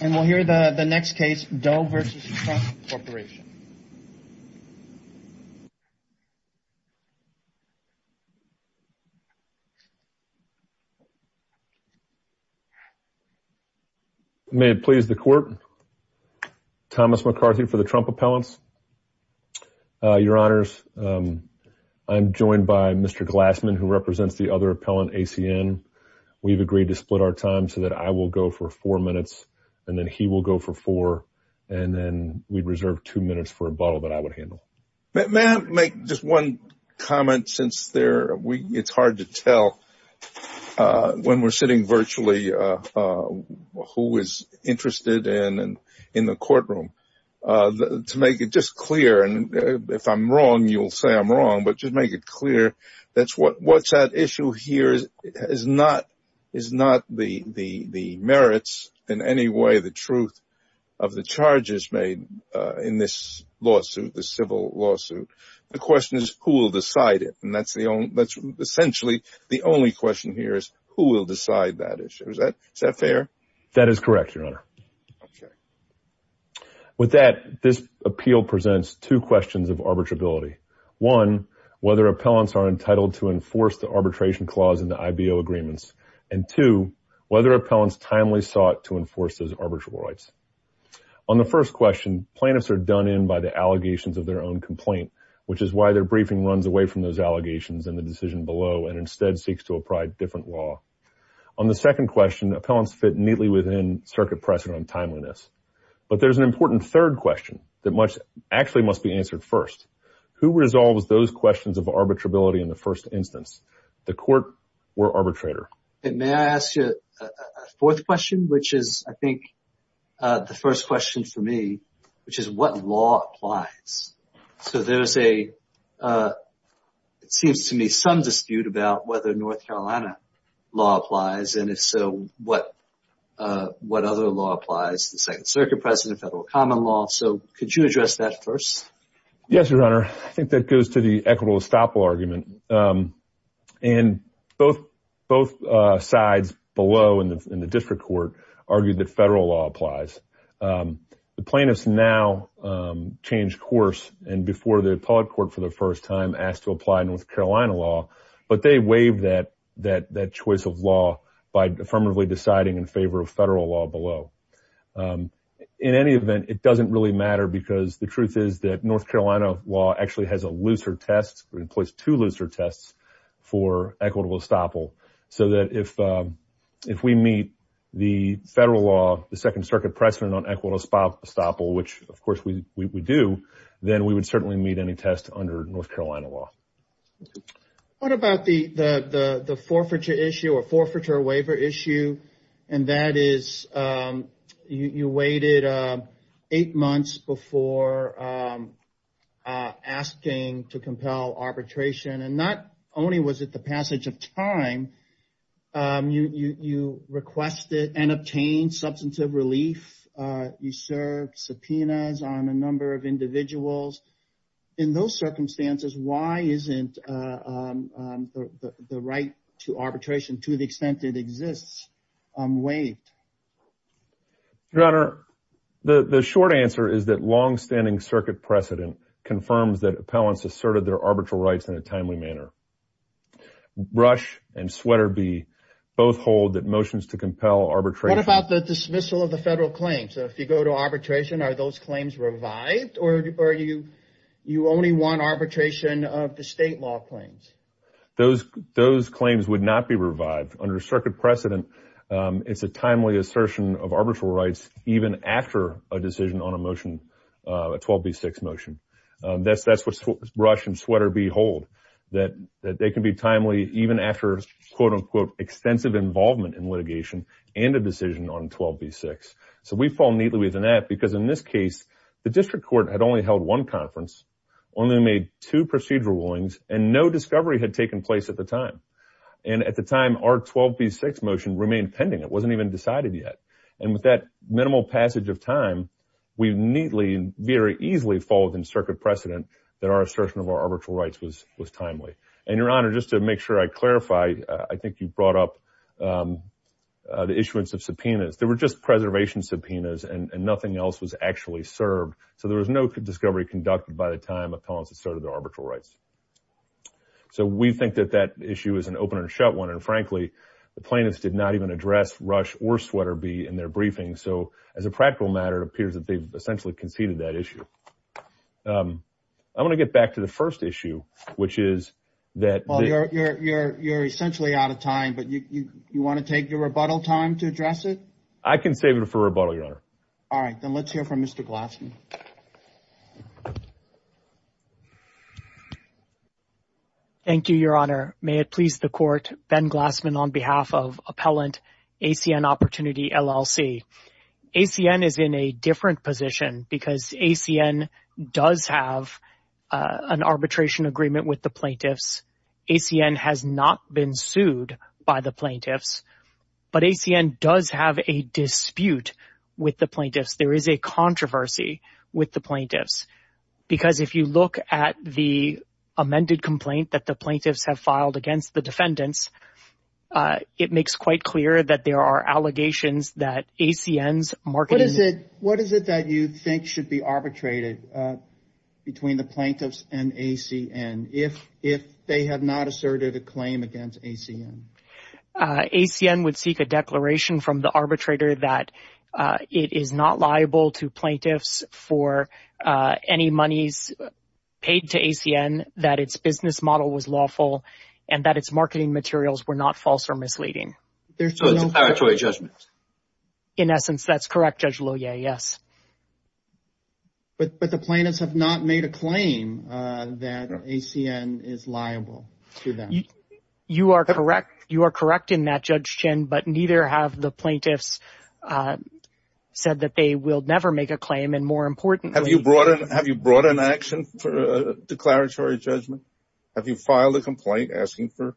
And we'll hear the next case, Doe v. Trump Corporation. May it please the court, Thomas McCarthy for the Trump Appellants. Your honors, I'm joined by Mr. Glassman, who represents the other appellant, ACN. We've agreed to split our time so that I will go for four minutes. And then he will go for four, and then we'd reserve two minutes for a bottle that I would handle. May I make just one comment, since it's hard to tell when we're sitting virtually, who is interested in the courtroom, to make it just clear. And if I'm wrong, you'll say I'm wrong, but just make it clear. That's what, what's that issue here is, is not, is not the, the, the merits in any way, the truth of the charges made in this lawsuit, the civil lawsuit. The question is who will decide it? And that's the only, that's essentially the only question here is who will decide that issue. Is that, is that fair? That is correct, your honor. With that, this appeal presents two questions of arbitrability. One, whether appellants are entitled to enforce the arbitration clause in the IBO agreements. And two, whether appellants timely sought to enforce those arbitral rights. On the first question, plaintiffs are done in by the allegations of their own complaint, which is why their briefing runs away from those allegations and the decision below, and instead seeks to apply different law. On the second question, appellants fit neatly within circuit precedent on timeliness. But there's an important third question that much actually must be answered first. Who resolves those questions of arbitrability in the first instance? The court or arbitrator? And may I ask you a fourth question, which is, I think, the first question for me, which is what law applies? So there's a, it seems to me some dispute about whether North Carolina law applies. And if so, what, what other law applies? The second circuit precedent, federal common law. So could you address that first? Yes, Your Honor. I think that goes to the equitable estoppel argument. And both, both sides below in the, in the district court argued that federal law applies. The plaintiffs now changed course. And before the appellate court for the first time asked to apply North Carolina law, but they waived that, that, that choice of law by affirmatively deciding in favor of federal law below. In any event, it doesn't really matter because the truth is that North Carolina law actually has a looser test in place, two looser tests for equitable estoppel. So that if, if we meet the federal law, the second circuit precedent on equitable estoppel, which of course we do, then we would certainly meet any test under North Carolina law. What about the, the, the, the forfeiture issue or forfeiture waiver issue? And that is you, you waited eight months before asking to compel arbitration. And not only was it the passage of time, you, you, you requested and obtained substantive relief. You served subpoenas on a number of individuals. In those circumstances, why isn't the right to arbitration to the extent it unwaived? Your Honor, the short answer is that longstanding circuit precedent confirms that appellants asserted their arbitral rights in a timely manner. Rush and Sweaterby both hold that motions to compel arbitration. What about the dismissal of the federal claims? So if you go to arbitration, are those claims revived or are you, you only want arbitration of the state law claims? Those, those claims would not be revived. Under circuit precedent, it's a timely assertion of arbitral rights, even after a decision on a motion, a 12B6 motion. That's, that's what Rush and Sweaterby hold, that, that they can be timely even after quote unquote extensive involvement in litigation and a decision on 12B6. So we fall neatly within that because in this case, the district court had only held one conference, only made two procedural rulings, and no discovery had taken place at the time. And at the time, our 12B6 motion remained pending. It wasn't even decided yet. And with that minimal passage of time, we neatly, very easily fall within circuit precedent that our assertion of our arbitral rights was, was timely. And Your Honor, just to make sure I clarify, I think you brought up the issuance of subpoenas. There were just preservation subpoenas and nothing else was actually served. So there was no discovery conducted by the time appellants asserted their arbitral rights. So we think that that issue is an open and shut one. And frankly, the plaintiffs did not even address Rush or Sweaterby in their briefing. So as a practical matter, it appears that they've essentially conceded that issue. I want to get back to the first issue, which is that... Well, you're, you're, you're, you're essentially out of time, but you, you, you want to take your rebuttal time to address it? I can save it for rebuttal, Your Honor. All right, then let's hear from Mr. Glassman. Thank you, Your Honor. May it please the court, Ben Glassman on behalf of Appellant ACN Opportunity, LLC. ACN is in a different position because ACN does have an arbitration agreement with the plaintiffs. ACN has not been sued by the plaintiffs, but ACN does have a dispute with the plaintiffs. There is a controversy with the plaintiffs. Because if you look at the amended complaint that the plaintiffs have filed against the defendants, it makes quite clear that there are allegations that ACN's marketing... What is it, what is it that you think should be arbitrated between the plaintiffs and ACN if, if they have not asserted a claim against ACN? ACN would seek a declaration from the arbitrator that it is not liable to any monies paid to ACN, that its business model was lawful, and that its marketing materials were not false or misleading. So it's a paritory judgment. In essence, that's correct, Judge Lohier, yes. But, but the plaintiffs have not made a claim that ACN is liable to them. You are correct. You are correct in that, Judge Chin, but neither have the plaintiffs said that they will never make a claim. Have you brought, have you brought an action for a declaratory judgment? Have you filed a complaint asking for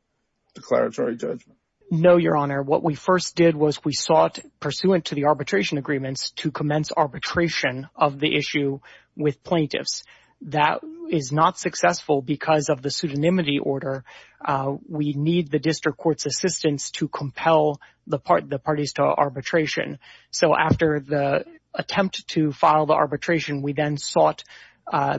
declaratory judgment? No, Your Honor. What we first did was we sought, pursuant to the arbitration agreements, to commence arbitration of the issue with plaintiffs. That is not successful because of the pseudonymity order. We need the district court's assistance to compel the parties to arbitration. So after the attempt to file the arbitration, we then sought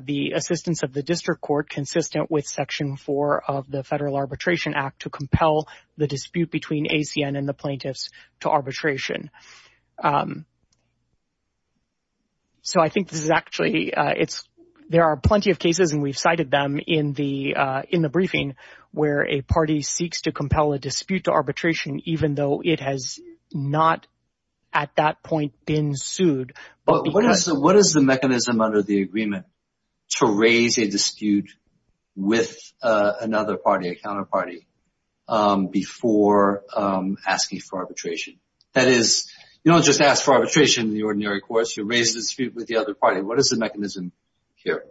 the assistance of the district court consistent with section four of the Federal Arbitration Act to compel the dispute between ACN and the plaintiffs to arbitration. So I think this is actually, it's, there are plenty of cases and we've cited them in the, in the briefing where a party seeks to compel a dispute to arbitration, even though it has not at that point been sued. But what is the, what is the mechanism under the agreement to raise a dispute with another party, a counterparty, before asking for arbitration? That is, you don't just ask for arbitration in the ordinary course. You raise the dispute with the other party. What is the mechanism here?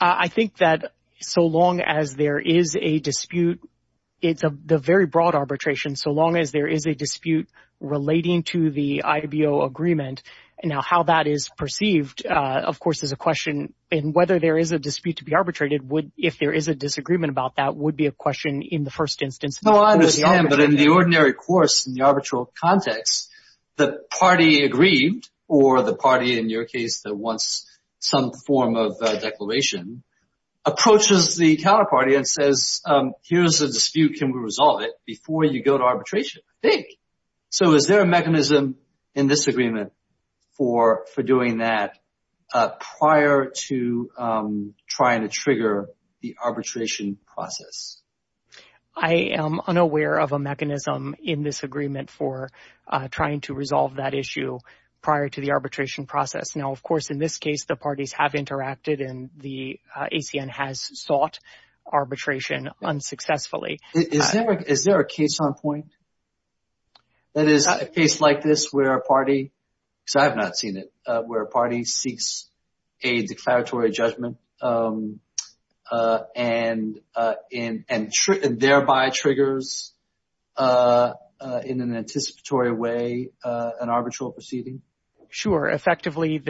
I think that so long as there is a dispute, it's a, the very broad arbitration, so long as there is a dispute relating to the IBO agreement. Now, how that is perceived, of course, is a question in whether there is a dispute to be arbitrated would, if there is a disagreement about that, would be a question in the first instance. No, I understand. But in the ordinary course, in the arbitral context, the party agreed, or the party in your case that wants some form of declaration, approaches the dispute, can we resolve it before you go to arbitration, I think. So is there a mechanism in this agreement for doing that prior to trying to trigger the arbitration process? I am unaware of a mechanism in this agreement for trying to resolve that issue prior to the arbitration process. Now, of course, in this case, the parties have interacted and the ACN has sought arbitration unsuccessfully. Is there a case on point that is a case like this where a party, because I have not seen it, where a party seeks a declaratory judgment and thereby triggers in an anticipatory way an arbitral proceeding? Sure. Effectively,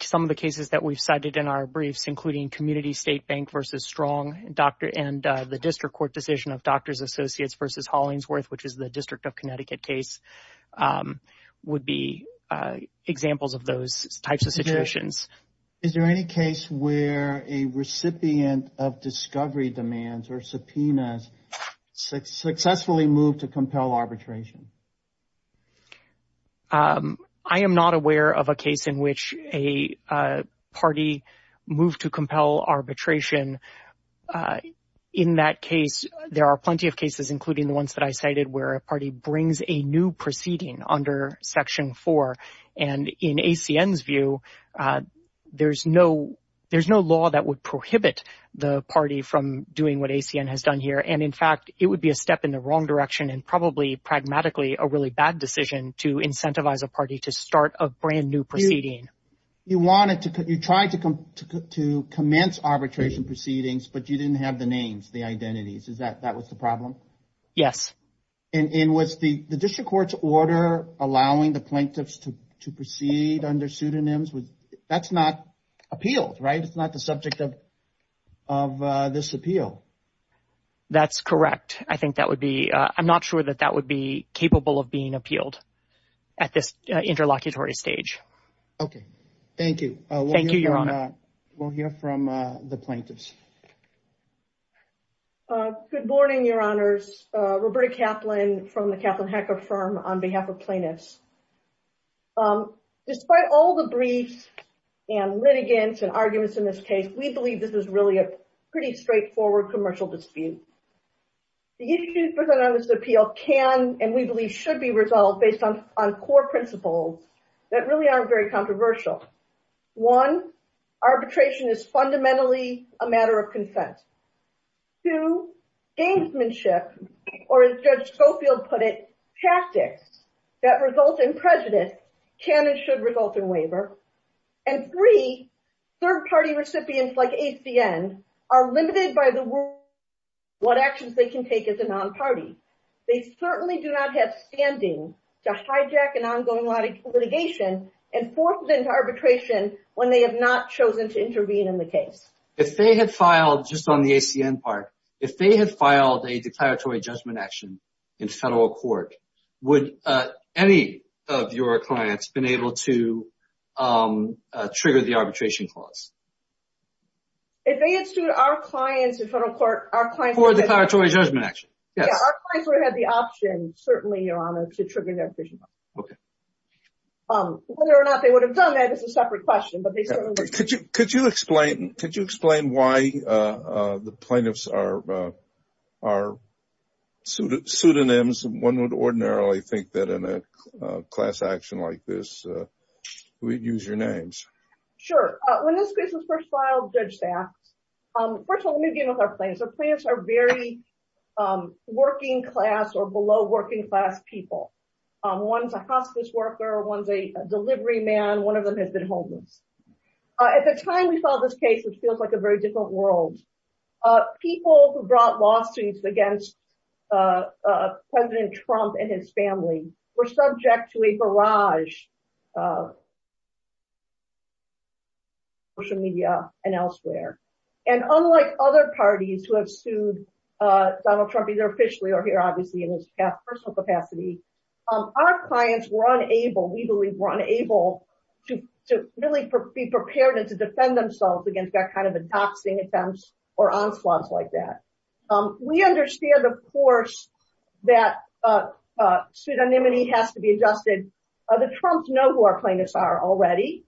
some of the cases that we've cited in our briefs, including Community State Bank v. Strong and the District Court decision of Doctors Associates v. Hollingsworth, which is the District of Connecticut case, would be examples of those types of situations. Is there any case where a recipient of discovery demands or subpoenas successfully moved to compel arbitration? I am not aware of a case in which a party moved to compel arbitration. In that case, there are plenty of cases, including the ones that I cited, where a party brings a new proceeding under Section 4. And in ACN's view, there's no law that would prohibit the party from doing what ACN has done here. And in fact, it would be a step in the wrong direction and probably pragmatically a really bad decision to incentivize a party to start a brand new proceeding. You wanted to, you tried to commence arbitration proceedings, but you didn't have the names, the identities. Is that, that was the problem? Yes. And was the District Court's order allowing the plaintiffs to proceed under pseudonyms, that's not appealed, right? It's not the subject of this appeal. That's correct. I think that would be, I'm not sure that that would be capable of being appealed at this interlocutory stage. Okay. Thank you. Thank you, Your Honor. We'll hear from the plaintiffs. Good morning, Your Honors. Roberta Kaplan from the Kaplan Hacker Firm on behalf of plaintiffs. Despite all the briefs and litigants and arguments in this case, we believe this is really a pretty straightforward commercial dispute. The issues presented on this appeal can, and we believe should be resolved based on, on core principles that really aren't very controversial. One, arbitration is fundamentally a matter of consent. Two, gamesmanship, or as Judge Schofield put it, tactics that result in prejudice can and should result in waiver. And three, third party recipients like HCN are limited by the word, what actions they can take as a non-party. They certainly do not have standing to hijack an ongoing litigation and force them to arbitration when they have not chosen to intervene in the case. If they had filed, just on the HCN part, if they had filed a declaratory judgment action in federal court, would any of your clients been able to trigger the arbitration clause? If they had sued our clients in federal court, our clients would have had the option, certainly, Your Honor, to trigger the arbitration clause. Okay. Whether or not they would have done that is a separate question, but they certainly would have. Could you explain, could you explain why the plaintiffs are, are pseudonyms? One would ordinarily think that in a class action like this, we'd use your names. Sure. When this case was first filed, Judge Sachs, first of all, let me begin with our plaintiffs. Our plaintiffs are very working class or below working class people. One's a hospice worker. One's a delivery man. One of them has been homeless. At the time we filed this case, which feels like a very different world, people who brought lawsuits against President Trump and his family were subject to a barrage of abuse on social media and elsewhere. And unlike other parties who have sued Donald Trump, either officially or here, obviously, in his personal capacity, our clients were unable, we believe were unable, to really be prepared and to defend themselves against that kind of a doxing attempts or onslaughts like that. We understand, of course, that pseudonymity has to be adjusted. The Trumps know who our plaintiffs are already.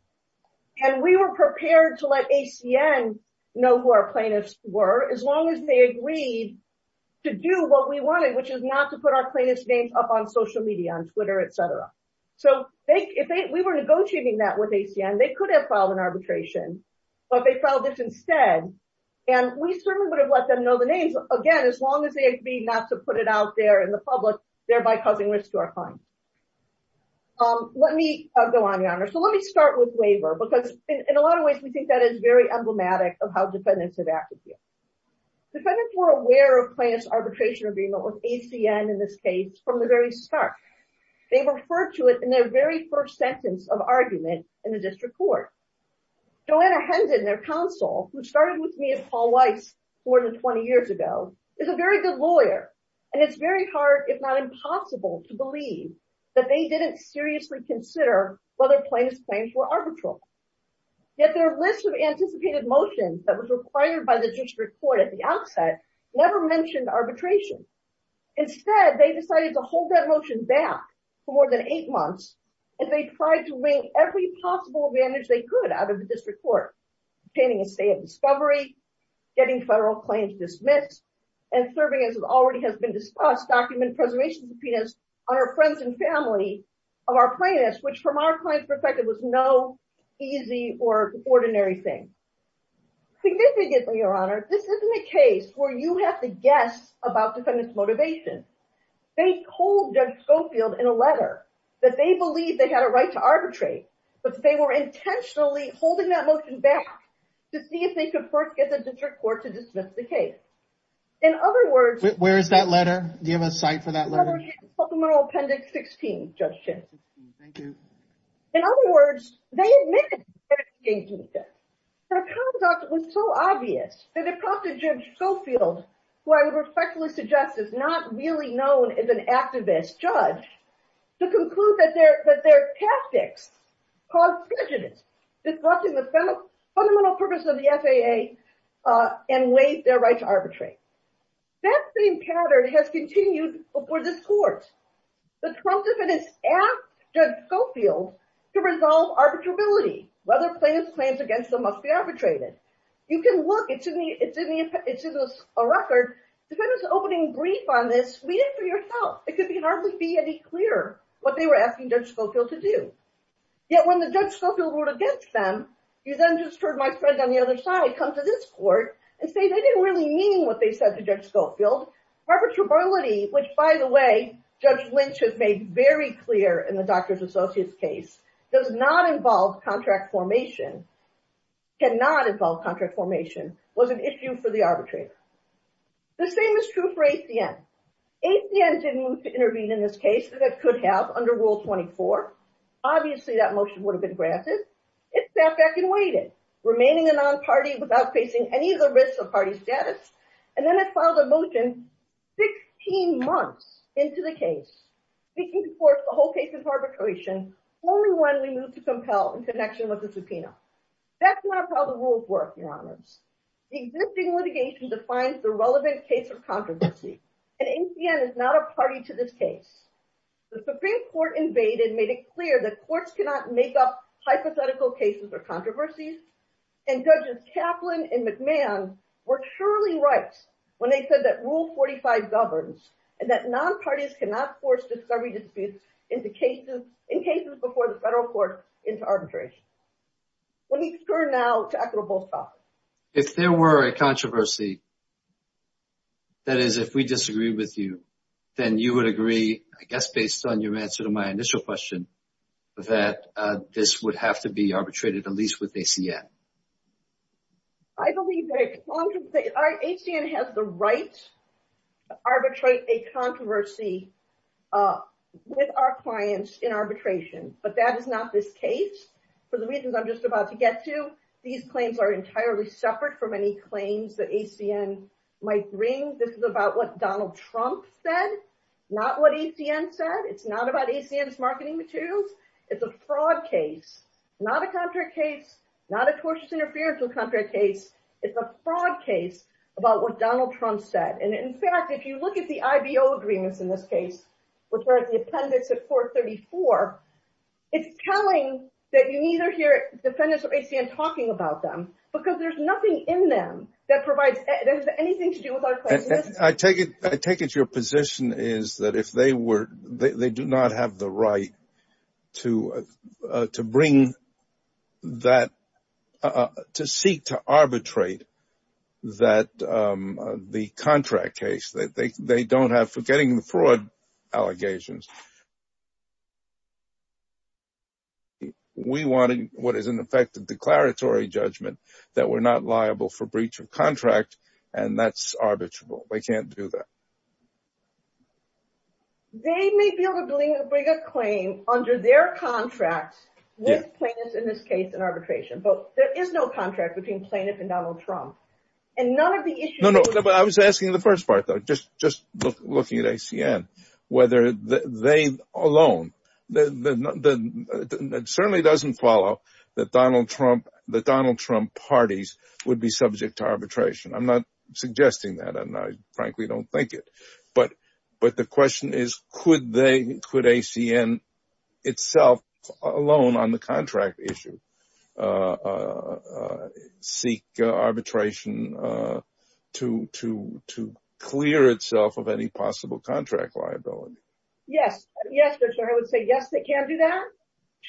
And we were prepared to let ACN know who our plaintiffs were as long as they agreed to do what we wanted, which is not to put our plaintiffs' names up on social media, on Twitter, etc. So if we were negotiating that with ACN, they could have filed an arbitration, but they filed this instead. And we certainly would have let them know the names, again, as long as they agreed not to put it out there in the public, thereby causing risk to our clients. Let me go on, Your Honor. So let me start with waiver, because in a lot of ways, we think that is very emblematic of how defendants have acted here. Defendants were aware of plaintiff's arbitration agreement with ACN, in this case, from the very start. They referred to it in their very first sentence of argument in the district court. Joanna Hendon, their counsel, who started with me and Paul Weiss more than 20 years ago, is a very good lawyer. And it's very hard, if not impossible, to believe that they didn't seriously consider whether plaintiff's claims were arbitral. Yet their list of anticipated motions that was required by the district court at the outset never mentioned arbitration. Instead, they decided to hold that motion back for more than eight months, and they tried to wring every possible advantage they could out of the district court, obtaining a state of discovery, getting federal claims dismissed, and serving, as already has been discussed, document preservation subpoenas on our friends and our plaintiffs, which, from our client's perspective, was no easy or ordinary thing. Significantly, Your Honor, this isn't a case where you have to guess about defendants' motivation. They hold Judge Schofield in a letter that they believe they had a right to arbitrate, but they were intentionally holding that motion back to see if they could first get the district court to dismiss the case. In other words... Where is that letter? Do you have a site for that letter? ...Polimeral Appendix 16, Judge Schiff. Thank you. In other words, they admitted that their conduct was so obvious that it prompted Judge Schofield, who I would respectfully suggest is not really known as an activist judge, to conclude that their tactics caused prejudice, disrupting the fundamental purpose of the FAA and waived their right to arbitrate. That same pattern has continued before this court. The Trump defendants asked Judge Schofield to resolve arbitrability. Whether plaintiffs plans against them must be arbitrated. You can look, it's in a record, defendants opening brief on this, read it for yourself. It could hardly be any clearer what they were asking Judge Schofield to do. Yet, when the Judge Schofield wrote against them, you then just heard my friend on the other side come to this court and say they didn't really mean what they said to Judge Schofield. Arbitrability, which, by the way, Judge Lynch has made very clear in the Drs. Associates case, does not involve contract formation, cannot involve contract formation, was an issue for the arbitrator. The same is true for HCN. HCN didn't move to intervene in this case that it could have under Rule 24. Obviously, that motion would have been granted. It sat back and waited, remaining a non-party without facing any of the risks of party status. And then it filed a motion 16 months into the case, seeking to force the whole case of arbitration only when we move to compel in connection with the subpoena. That's not how the rules work, Your Honors. Existing litigation defines the relevant case of controversy, and HCN is not a party to this case. The Supreme Court invaded, made it clear that courts cannot make up hypothetical cases or controversies. And Judges Kaplan and McMahon were surely right when they said that Rule 45 governs and that non-parties cannot force discovery disputes in cases before the federal court into arbitration. Let me turn now to Admiral Bolschoff. If there were a controversy, that is, if we disagreed with you, then you would agree, I guess, based on your answer to my initial question, that this would have to be arbitrated, at least with HCN. I believe that HCN has the right to arbitrate a controversy with our clients in arbitration, but that is not this case. For the reasons I'm just about to get to, these claims are entirely separate from any claims that HCN might bring. This is about what Donald Trump said, not what HCN said. It's not about HCN's marketing materials. It's a fraud case, not a contract case, not a tortious interferential contract case. It's a fraud case about what Donald Trump said. And in fact, if you look at the IBO agreements in this case, which are at the appendix of Court 34, it's telling that you neither hear defendants of HCN talking about them because there's nothing in them that has anything to do with our I take it your position is that if they do not have the right to seek to arbitrate that the contract case, they don't have forgetting the fraud allegations. We wanted what is in effect a declaratory judgment that we're not liable for breach of contract, and that's arbitrable. We can't do that. They may be able to bring a claim under their contract with plaintiffs in this case and arbitration, but there is no contract between plaintiff and Donald Trump and none of the issues. No, no. I was asking the first part though, just looking at HCN, whether they alone, it certainly doesn't follow that Donald Trump, the Donald Trump parties would be subject to arbitration. I'm not suggesting that. And I frankly don't think it, but, but the question is, could they, could HCN itself alone on the contract issue, seek arbitration to, to, to clear itself of any possible contract liability? Yes. Yes. I would say, yes, they can do that.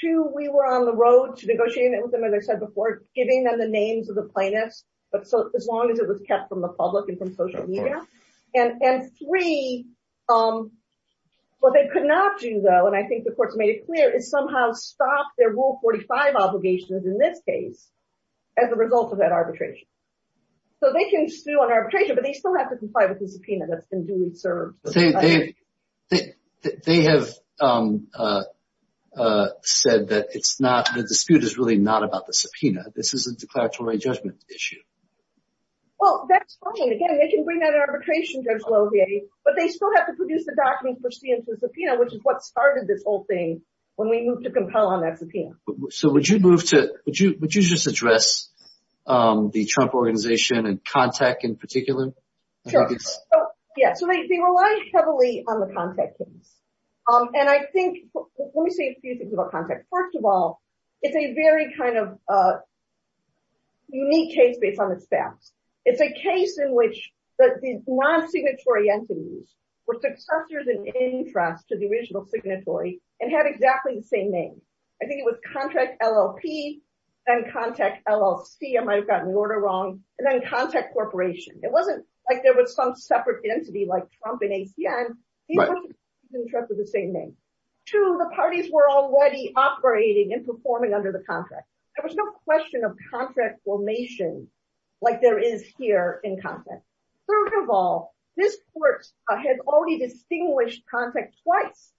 Two, we were on the road to negotiating with them, as I said before, giving them the names of the plaintiffs, but so as long as it was kept from the public and from social media, and, and three, what they could not do though, and I think the court's made it clear, is somehow stop their rule 45 obligations in this case as a result of that arbitration. So they can still do an arbitration, but they still have to comply with the subpoena that's been duly served. They have said that it's not, the dispute is really not about the subpoena. This is a declaratory judgment issue. Well, that's fine. Again, they can bring that arbitration, Judge Lohier, but they still have to produce the document for C and for the subpoena, which is what started this whole thing when we moved to compel on that subpoena. So would you move to, would you, would you just address the Trump organization and CONTACT in particular? Sure. Yeah. So they, they rely heavily on the CONTACT case. And I think, let me say a few things about CONTACT. First of all, it's a very kind of a unique case based on its facts. It's a case in which the non-signatory entities were successors in interest to the original signatory and had exactly the same name. I think it was CONTACT LLP and CONTACT LLC. I might've gotten the order wrong. And then CONTACT Corporation. It wasn't like there was some separate entity like Trump and ACN. These were the same names. Two, the parties were already operating and performing under the contract. There was no question of contract formation like there is here in CONTACT. Third of all, this court has already distinguished CONTACT twice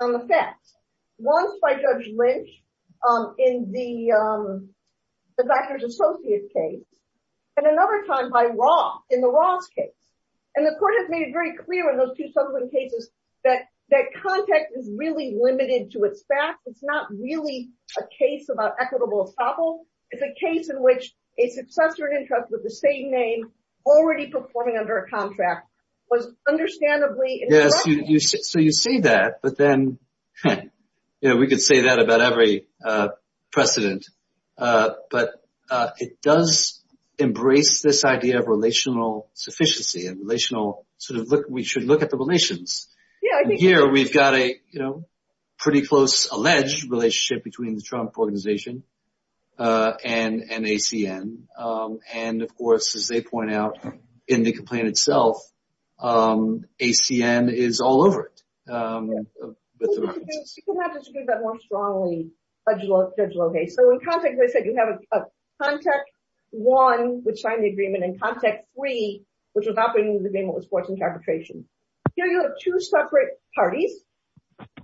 on the facts. Once by Judge Lynch in the, the Dachner's associate case, and another time by Raw in the Raw's case. And the court has made it very clear in those two subsequent cases that, that CONTACT is really limited to its facts. It's not really a case about equitable estoppel. It's a case in which a successor in interest with the same name already performing under a contract was understandably incorrect. So you say that, but then, you know, we could say that about every precedent. But it does embrace this idea of relational sufficiency and relational sort of look, we should look at the relations. Here, we've got a, you know, pretty close alleged relationship between the Trump organization and, and ACN. And of course, as they point out in the complaint itself, ACN is all over it. You could have disagreed that more strongly, Judge Lohey. So in CONTACT, as I said, you have a CONTACT one, which signed the agreement, and CONTACT three, which was operating under the agreement with sports and arbitration. Here, you have two separate parties.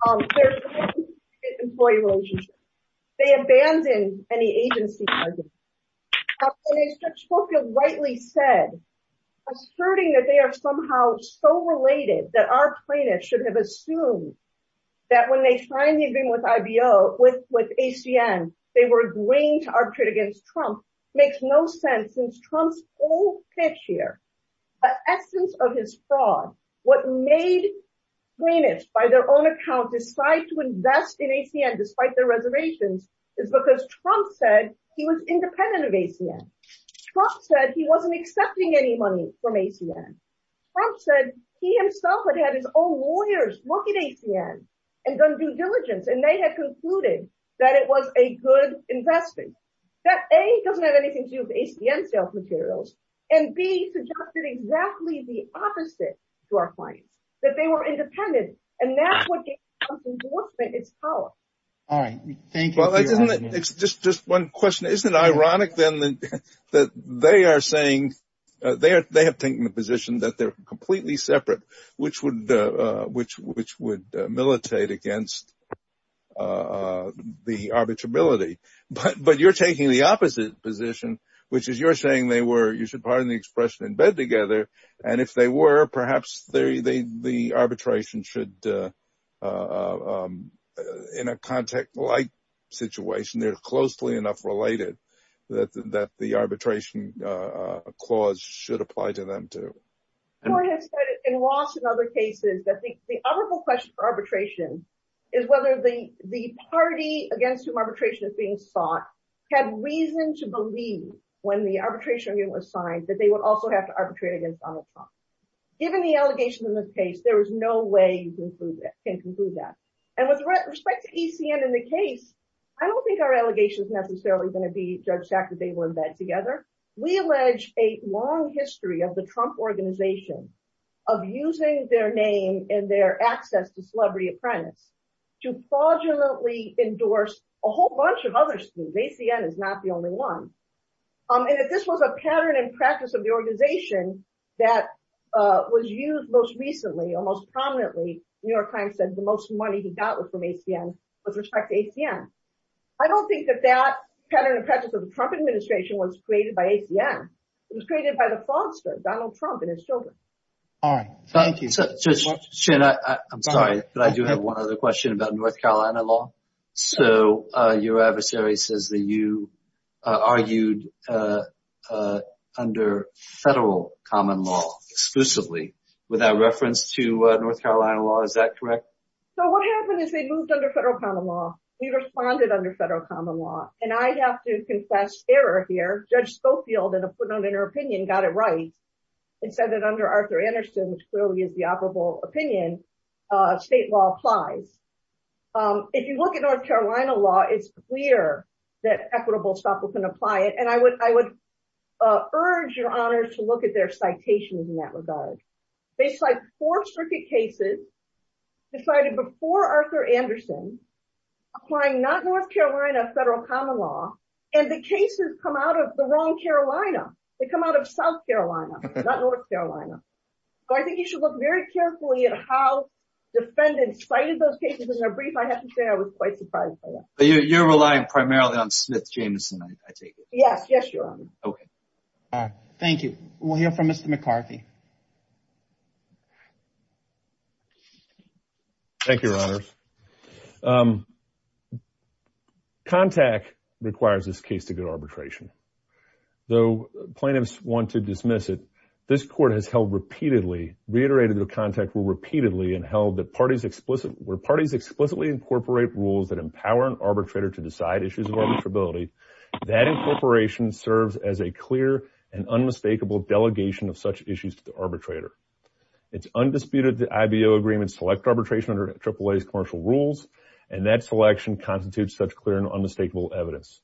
There's an employee relationship. They abandoned any agency. And as Judge Spokiel rightly said, asserting that they are somehow so related that our plaintiffs should have assumed that when they signed the agreement with IBO, with, with ACN, they were agreeing to arbitrate against Trump makes no sense since Trump's old pitch here, the essence of his fraud. What made plaintiffs, by their own account, decide to invest in ACN despite their reservations is because Trump said he was independent of ACN. Trump said he wasn't accepting any money from ACN. Trump said he himself had had his own lawyers look at ACN and done due diligence. And they had concluded that it was a good investment. That A, doesn't have anything to do with ACN sales materials. And B, suggested exactly the opposite to our clients, that they were independent. And that's what gave Trump's endorsement its power. All right. Thank you. Well, isn't it, it's just, just one question. Isn't it ironic then that, that they are saying, they are, they have taken the position that they're completely separate, which would, which, which would militate against the arbitrability. But, but you're taking the opposite position, which is you're saying they were, you should pardon the expression in bed together. And if they were, perhaps the, the, the arbitration should, in a contact like situation, they're closely enough related that the, that the arbitration clause should apply to them too. I have said it in lots of other cases that the, the honorable question for arbitration is whether the, the party against whom arbitration is being sought had reason to believe when the arbitration was signed, that they would also have to arbitrate against Donald Trump. Given the allegation in this case, there was no way you can conclude that. And with respect to ECN in the case, I don't think our allegation is necessarily going to be Judge Sack that they were in bed together. We allege a long history of the Trump organization of using their name and their access to celebrity apprentice to fraudulently endorse a whole bunch of other things. ACN is not the only one. And if this was a pattern and practice of the organization that was used most recently, almost prominently, New York Times said the most money he got was from ACN with respect to ACN. I don't think that that pattern and practice of the Trump administration was created by ACN. It was created by the fraudster, Donald Trump and his children. All right. Thank you. So I'm sorry, but I do have one other question about North Carolina law. So your adversary says that you argued under federal common law exclusively without reference to North Carolina law. Is that correct? So what happened is they moved under federal common law. We responded under federal common law. And I have to confess error here. Judge Schofield, in her opinion, got it right and said that under Arthur Anderson, which clearly is the operable opinion, state law applies. If you look at North Carolina law, it's clear that equitable stuff was going to apply it. And I would, I would urge your honors to look at their citations in that regard. They cite four circuit cases decided before Arthur Anderson, applying not North Carolina federal common law. And the cases come out of the wrong Carolina. They come out of South Carolina, not North Carolina. So I think you should look very carefully at how defendants cited those brief. I have to say, I was quite surprised. But you're relying primarily on Smith Jamison, I take it? Yes. Yes, your honor. Okay. All right. Thank you. We'll hear from Mr. McCarthy. Thank you, your honors. Um, contact requires this case to go to arbitration. Though plaintiffs want to dismiss it. This court has held repeatedly reiterated their contact will repeatedly and held that parties explicit where parties explicitly incorporate rules that empower an arbitrator to decide issues of arbitrability that incorporation serves as a clear and unmistakable delegation of such issues to the arbitrator. It's undisputed that IBO agreements, select arbitration under triple A's commercial rules. And that selection constitutes such clear and unmistakable evidence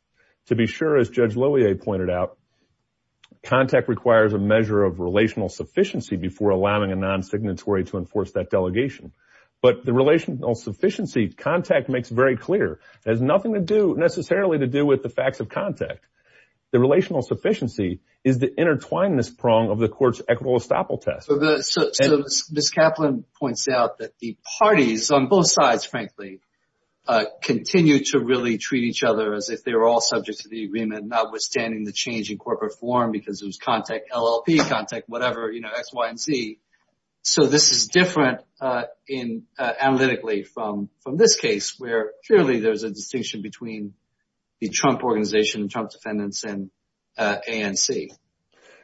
to be sure. As judge Lillie pointed out, contact requires a measure of relational sufficiency before allowing a non-signatory to enforce that delegation. But the relational sufficiency contact makes very clear. It has nothing to do necessarily to do with the facts of contact. The relational sufficiency is the intertwinedness prong of the court's equitable estoppel test. Ms. Kaplan points out that the parties on both sides, frankly, uh, continue to really treat each other as if they were all subject to the agreement, not withstanding the change in corporate form, because it was contact LLP, contact, whatever, you know, X, Y, and Z. So this is different, uh, in, uh, analytically from, from this case where clearly there's a distinction between the Trump organization and Trump defendants and, uh, ANC.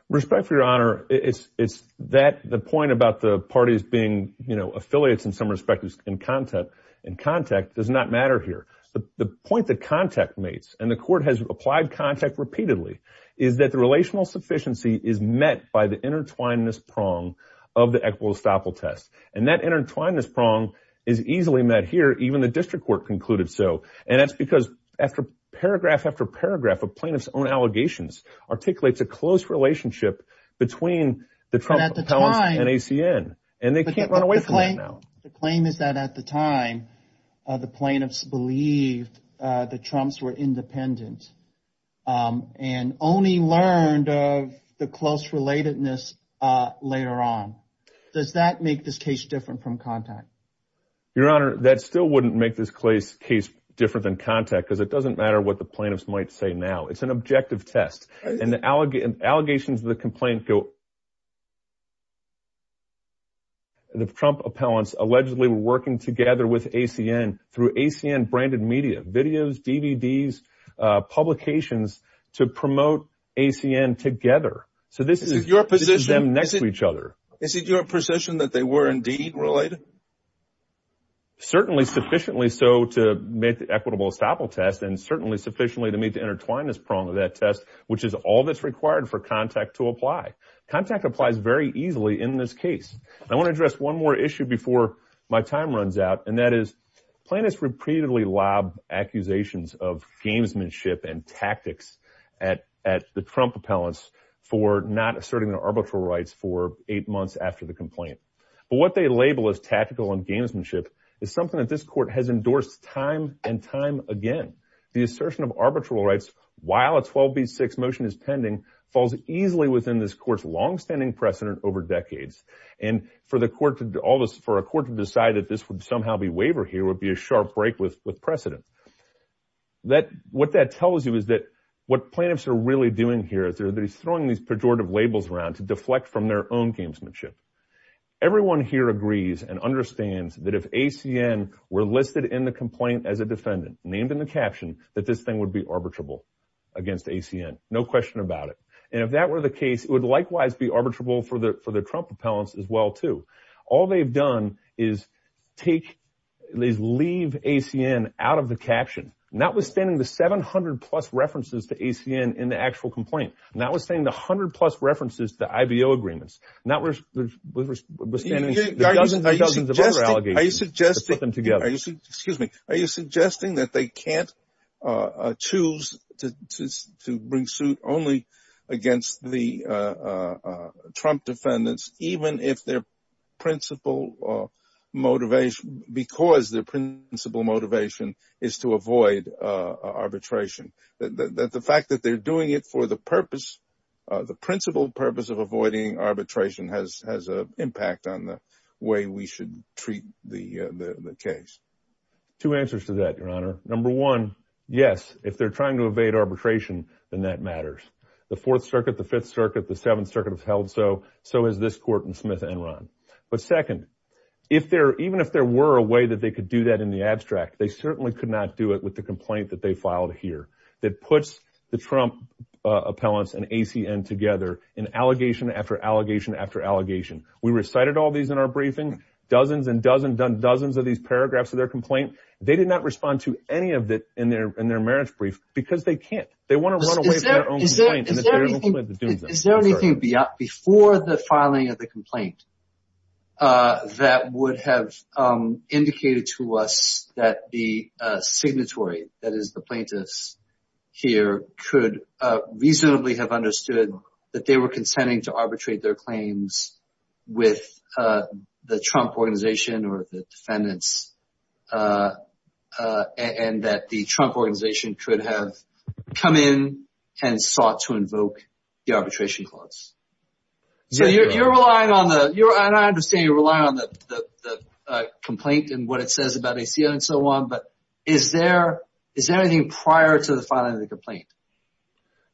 Respect for your honor. It's, it's that the point about the parties being, you know, affiliates in some respect in contact, in contact does not matter here. The point that contact makes, and the court has applied contact repeatedly, is that the relational sufficiency is met by the intertwinedness prong of the equitable estoppel test. And that intertwinedness prong is easily met here. Even the district court concluded. So, and that's because after paragraph after paragraph of plaintiff's own allegations articulates a close relationship between the Trump and ACN. And they can't run away from that now. The claim is that at the time, uh, the plaintiffs believed, uh, the Trump's were independent. Um, and only learned of the close relatedness, uh, later on, does that make this case different from contact? Your honor, that still wouldn't make this case case different than contact because it doesn't matter what the plaintiffs might say now it's an objective test and the allegations of the complaint go, the Trump appellants allegedly were working together with ACN through ACN branded media, videos, DVDs, uh, publications to promote ACN together. So this is your position next to each other. Is it your position that they were indeed related? Certainly sufficiently so to make the equitable estoppel test and certainly sufficiently to meet the intertwinedness prong of that test, which is all that's required for contact to apply. Contact applies very easily in this case. I want to address one more issue before my time runs out. And that is plaintiffs repeatedly lob accusations of gamesmanship and tactics at, at the Trump appellants for not asserting their arbitral rights for eight months after the complaint. But what they label as tactical and gamesmanship is something that this court has endorsed time and time again, the assertion of arbitral rights while it's 12 B six motion is pending falls easily within this court's longstanding precedent over decades and for the court to do all this for a court to decide that this would somehow be waiver here would be a sharp break with precedent. That what that tells you is that what plaintiffs are really doing here is they're throwing these pejorative labels around to deflect from their own gamesmanship. Everyone here agrees and understands that if ACN were listed in the complaint as a defendant named in the caption, that this thing would be arbitrable against ACN. No question about it. And if that were the case, it would likewise be arbitrable for the, for the Trump appellants as well, too. All they've done is take these, leave ACN out of the caption, not withstanding the 700 plus references to ACN in the actual complaint, not withstanding the a hundred plus references to the IBO agreements, not where we're standing, dozens of other allegations to put them together. Excuse me. Are you suggesting that they can't, uh, choose to, to, to bring suit only against the, uh, uh, Trump defendants, even if their principle or motivation, because their principle motivation is to avoid, uh, arbitration that, that the fact that they're doing it for the purpose, uh, the principle purpose of avoiding arbitration has, has a impact on the way we should treat the, uh, the, the case. Two answers to that, your honor. Number one, yes. If they're trying to evade arbitration, then that matters. The fourth circuit, the fifth circuit, the seventh circuit has held. So, so has this court in Smith and Ron. But second, if there, even if there were a way that they could do that in the abstract, they certainly could not do it with the complaint that they filed here. That puts the Trump, uh, appellants and ACN together in allegation after allegation, after allegation. We recited all these in our briefing, dozens and dozen, done dozens of these paragraphs of their complaint. They did not respond to any of that in their, in their marriage brief because they can't, they want to run away. Is there anything, is there anything beyond, before the filing of the complaint, uh, that would have, um, indicated to us that the, uh, signatory, that is the plaintiffs here could, uh, reasonably have understood that they were consenting to arbitrate their claims with, uh, the Trump organization or the defendants, uh, uh, and that the Trump organization could have come in and sought to invoke the arbitration clause. So you're, you're relying on the, you're, and I understand you're relying on the, the, the, uh, complaint and what it says about ACN and so on, but is there, is there anything prior to the filing of the complaint?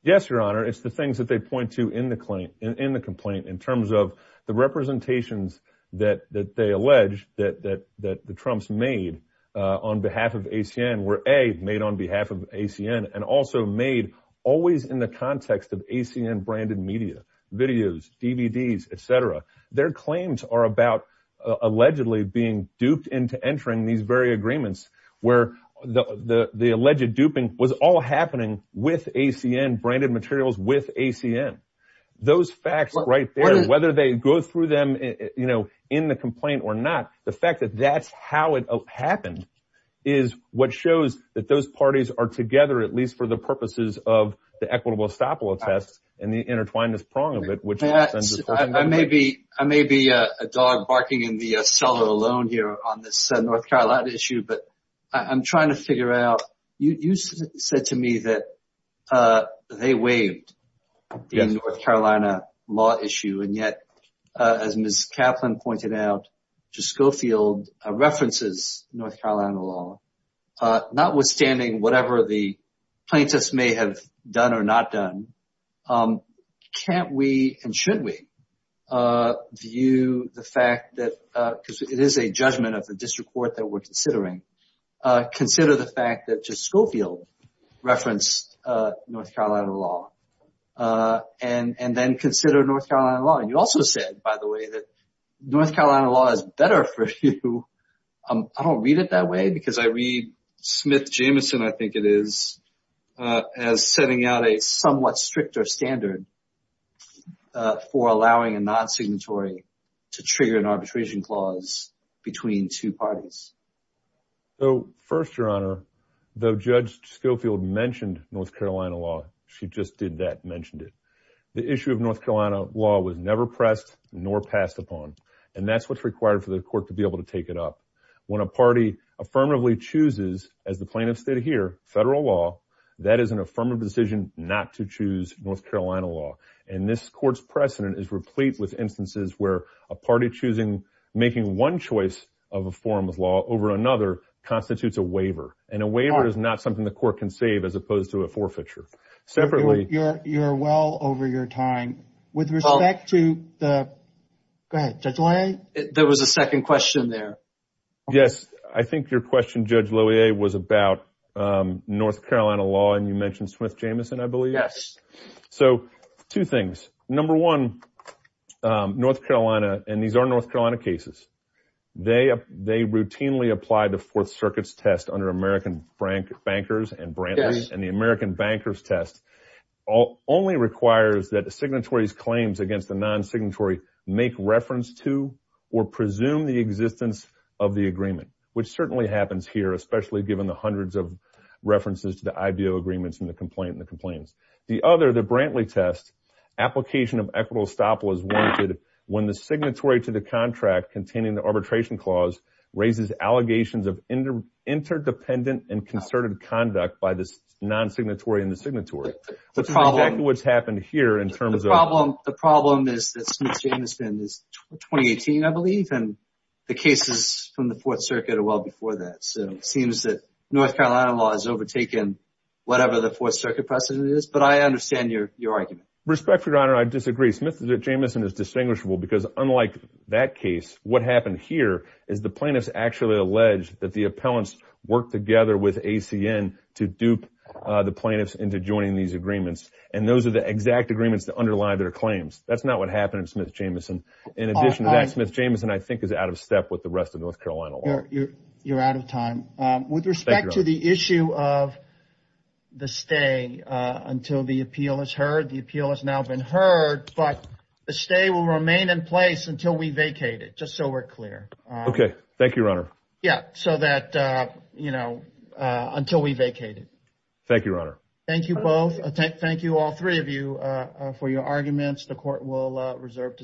Yes, Your Honor. It's the things that they point to in the claim, in the complaint in terms of the representations that, that they allege that, that, that the Trump's made, uh, on behalf of ACN were a made on behalf of ACN and also made always in the context of ACN branded media, videos, DVDs, et cetera, their claims are about, uh, allegedly being duped into entering these very agreements where the, the, the alleged duping was all happening with ACN branded materials with ACN, those facts right there, whether they go through them, you know, in the complaint or not. The fact that that's how it happened is what shows that those parties are together, at least for the purposes of the equitable estoppel attest and the intertwinedness prong of it, which I may be, I may be a dog barking in the cellar alone here on this, uh, North Carolina issue, but I'm trying to figure out, you, you said to me that, uh, they waived the North Carolina law issue. And yet, uh, as Ms. Kaplan pointed out, Juskofield, uh, references North Carolina law, uh, not withstanding whatever the plaintiffs may have done or not done, um, can't we, and should we, uh, view the fact that, uh, cause it is a judgment of the district court that we're considering, uh, consider the fact that Juskofield referenced, uh, North Carolina law, uh, and, and then consider North Carolina law. And you also said, by the way, that North Carolina law is better for you. Um, I don't read it that way because I read Smith-Jameson, I think it is, uh, as setting out a somewhat stricter standard, uh, for allowing a non-signatory to trigger an arbitration clause between two parties. So first, Your Honor, though Judge Juskofield mentioned North Carolina law, she just did that, mentioned it. The issue of North Carolina law was never pressed nor passed upon. And that's what's required for the court to be able to take it up. When a party affirmatively chooses, as the plaintiffs did here, federal law, that is an affirmative decision not to choose North Carolina law. And this court's precedent is replete with instances where a party choosing, making one choice of a form of law over another constitutes a waiver. And a waiver is not something the court can save as opposed to a forfeiture. Separately... You're, you're well over your time. With respect to the... Go ahead, Judge Loewe. There was a second question there. Yes. I think your question, Judge Loewe, was about, um, North Carolina law. And you mentioned Smith-Jameson, I believe. Yes. So two things. Number one, um, North Carolina, and these are North Carolina cases. They, they routinely apply the Fourth Circuit's test under American Bankers and Brantley, and the American Bankers test only requires that the signatory's claims against the non-signatory make reference to or presume the existence of the agreement, which certainly happens here, especially given the hundreds of references to the IBO agreements and the complaint and the complaints. The other, the Brantley test, application of equitable estoppel is warranted when the signatory to the contract containing the arbitration clause raises allegations of interdependent and concerted conduct by the non-signatory and the signatory. The problem... Which is exactly what's happened here in terms of... The problem, the problem is that Smith-Jameson is 2018, I believe. And the cases from the Fourth Circuit are well before that. So it seems that North Carolina law has overtaken whatever the Fourth Circuit has done, but I understand your, your argument. Respect for your honor, I disagree. Smith-Jameson is distinguishable because unlike that case, what happened here is the plaintiffs actually alleged that the appellants worked together with ACN to dupe the plaintiffs into joining these agreements, and those are the exact agreements that underlie their claims. That's not what happened in Smith-Jameson. In addition to that, Smith-Jameson, I think is out of step with the rest of North Carolina law. You're out of time. With respect to the issue of the stay until the appeal is heard, the appeal has now been heard, but the stay will remain in place until we vacate it. Just so we're clear. Okay. Thank you, your honor. Yeah. So that, you know, until we vacate it. Thank you, your honor. Thank you both. Thank you all three of you for your arguments. The court will reserve to.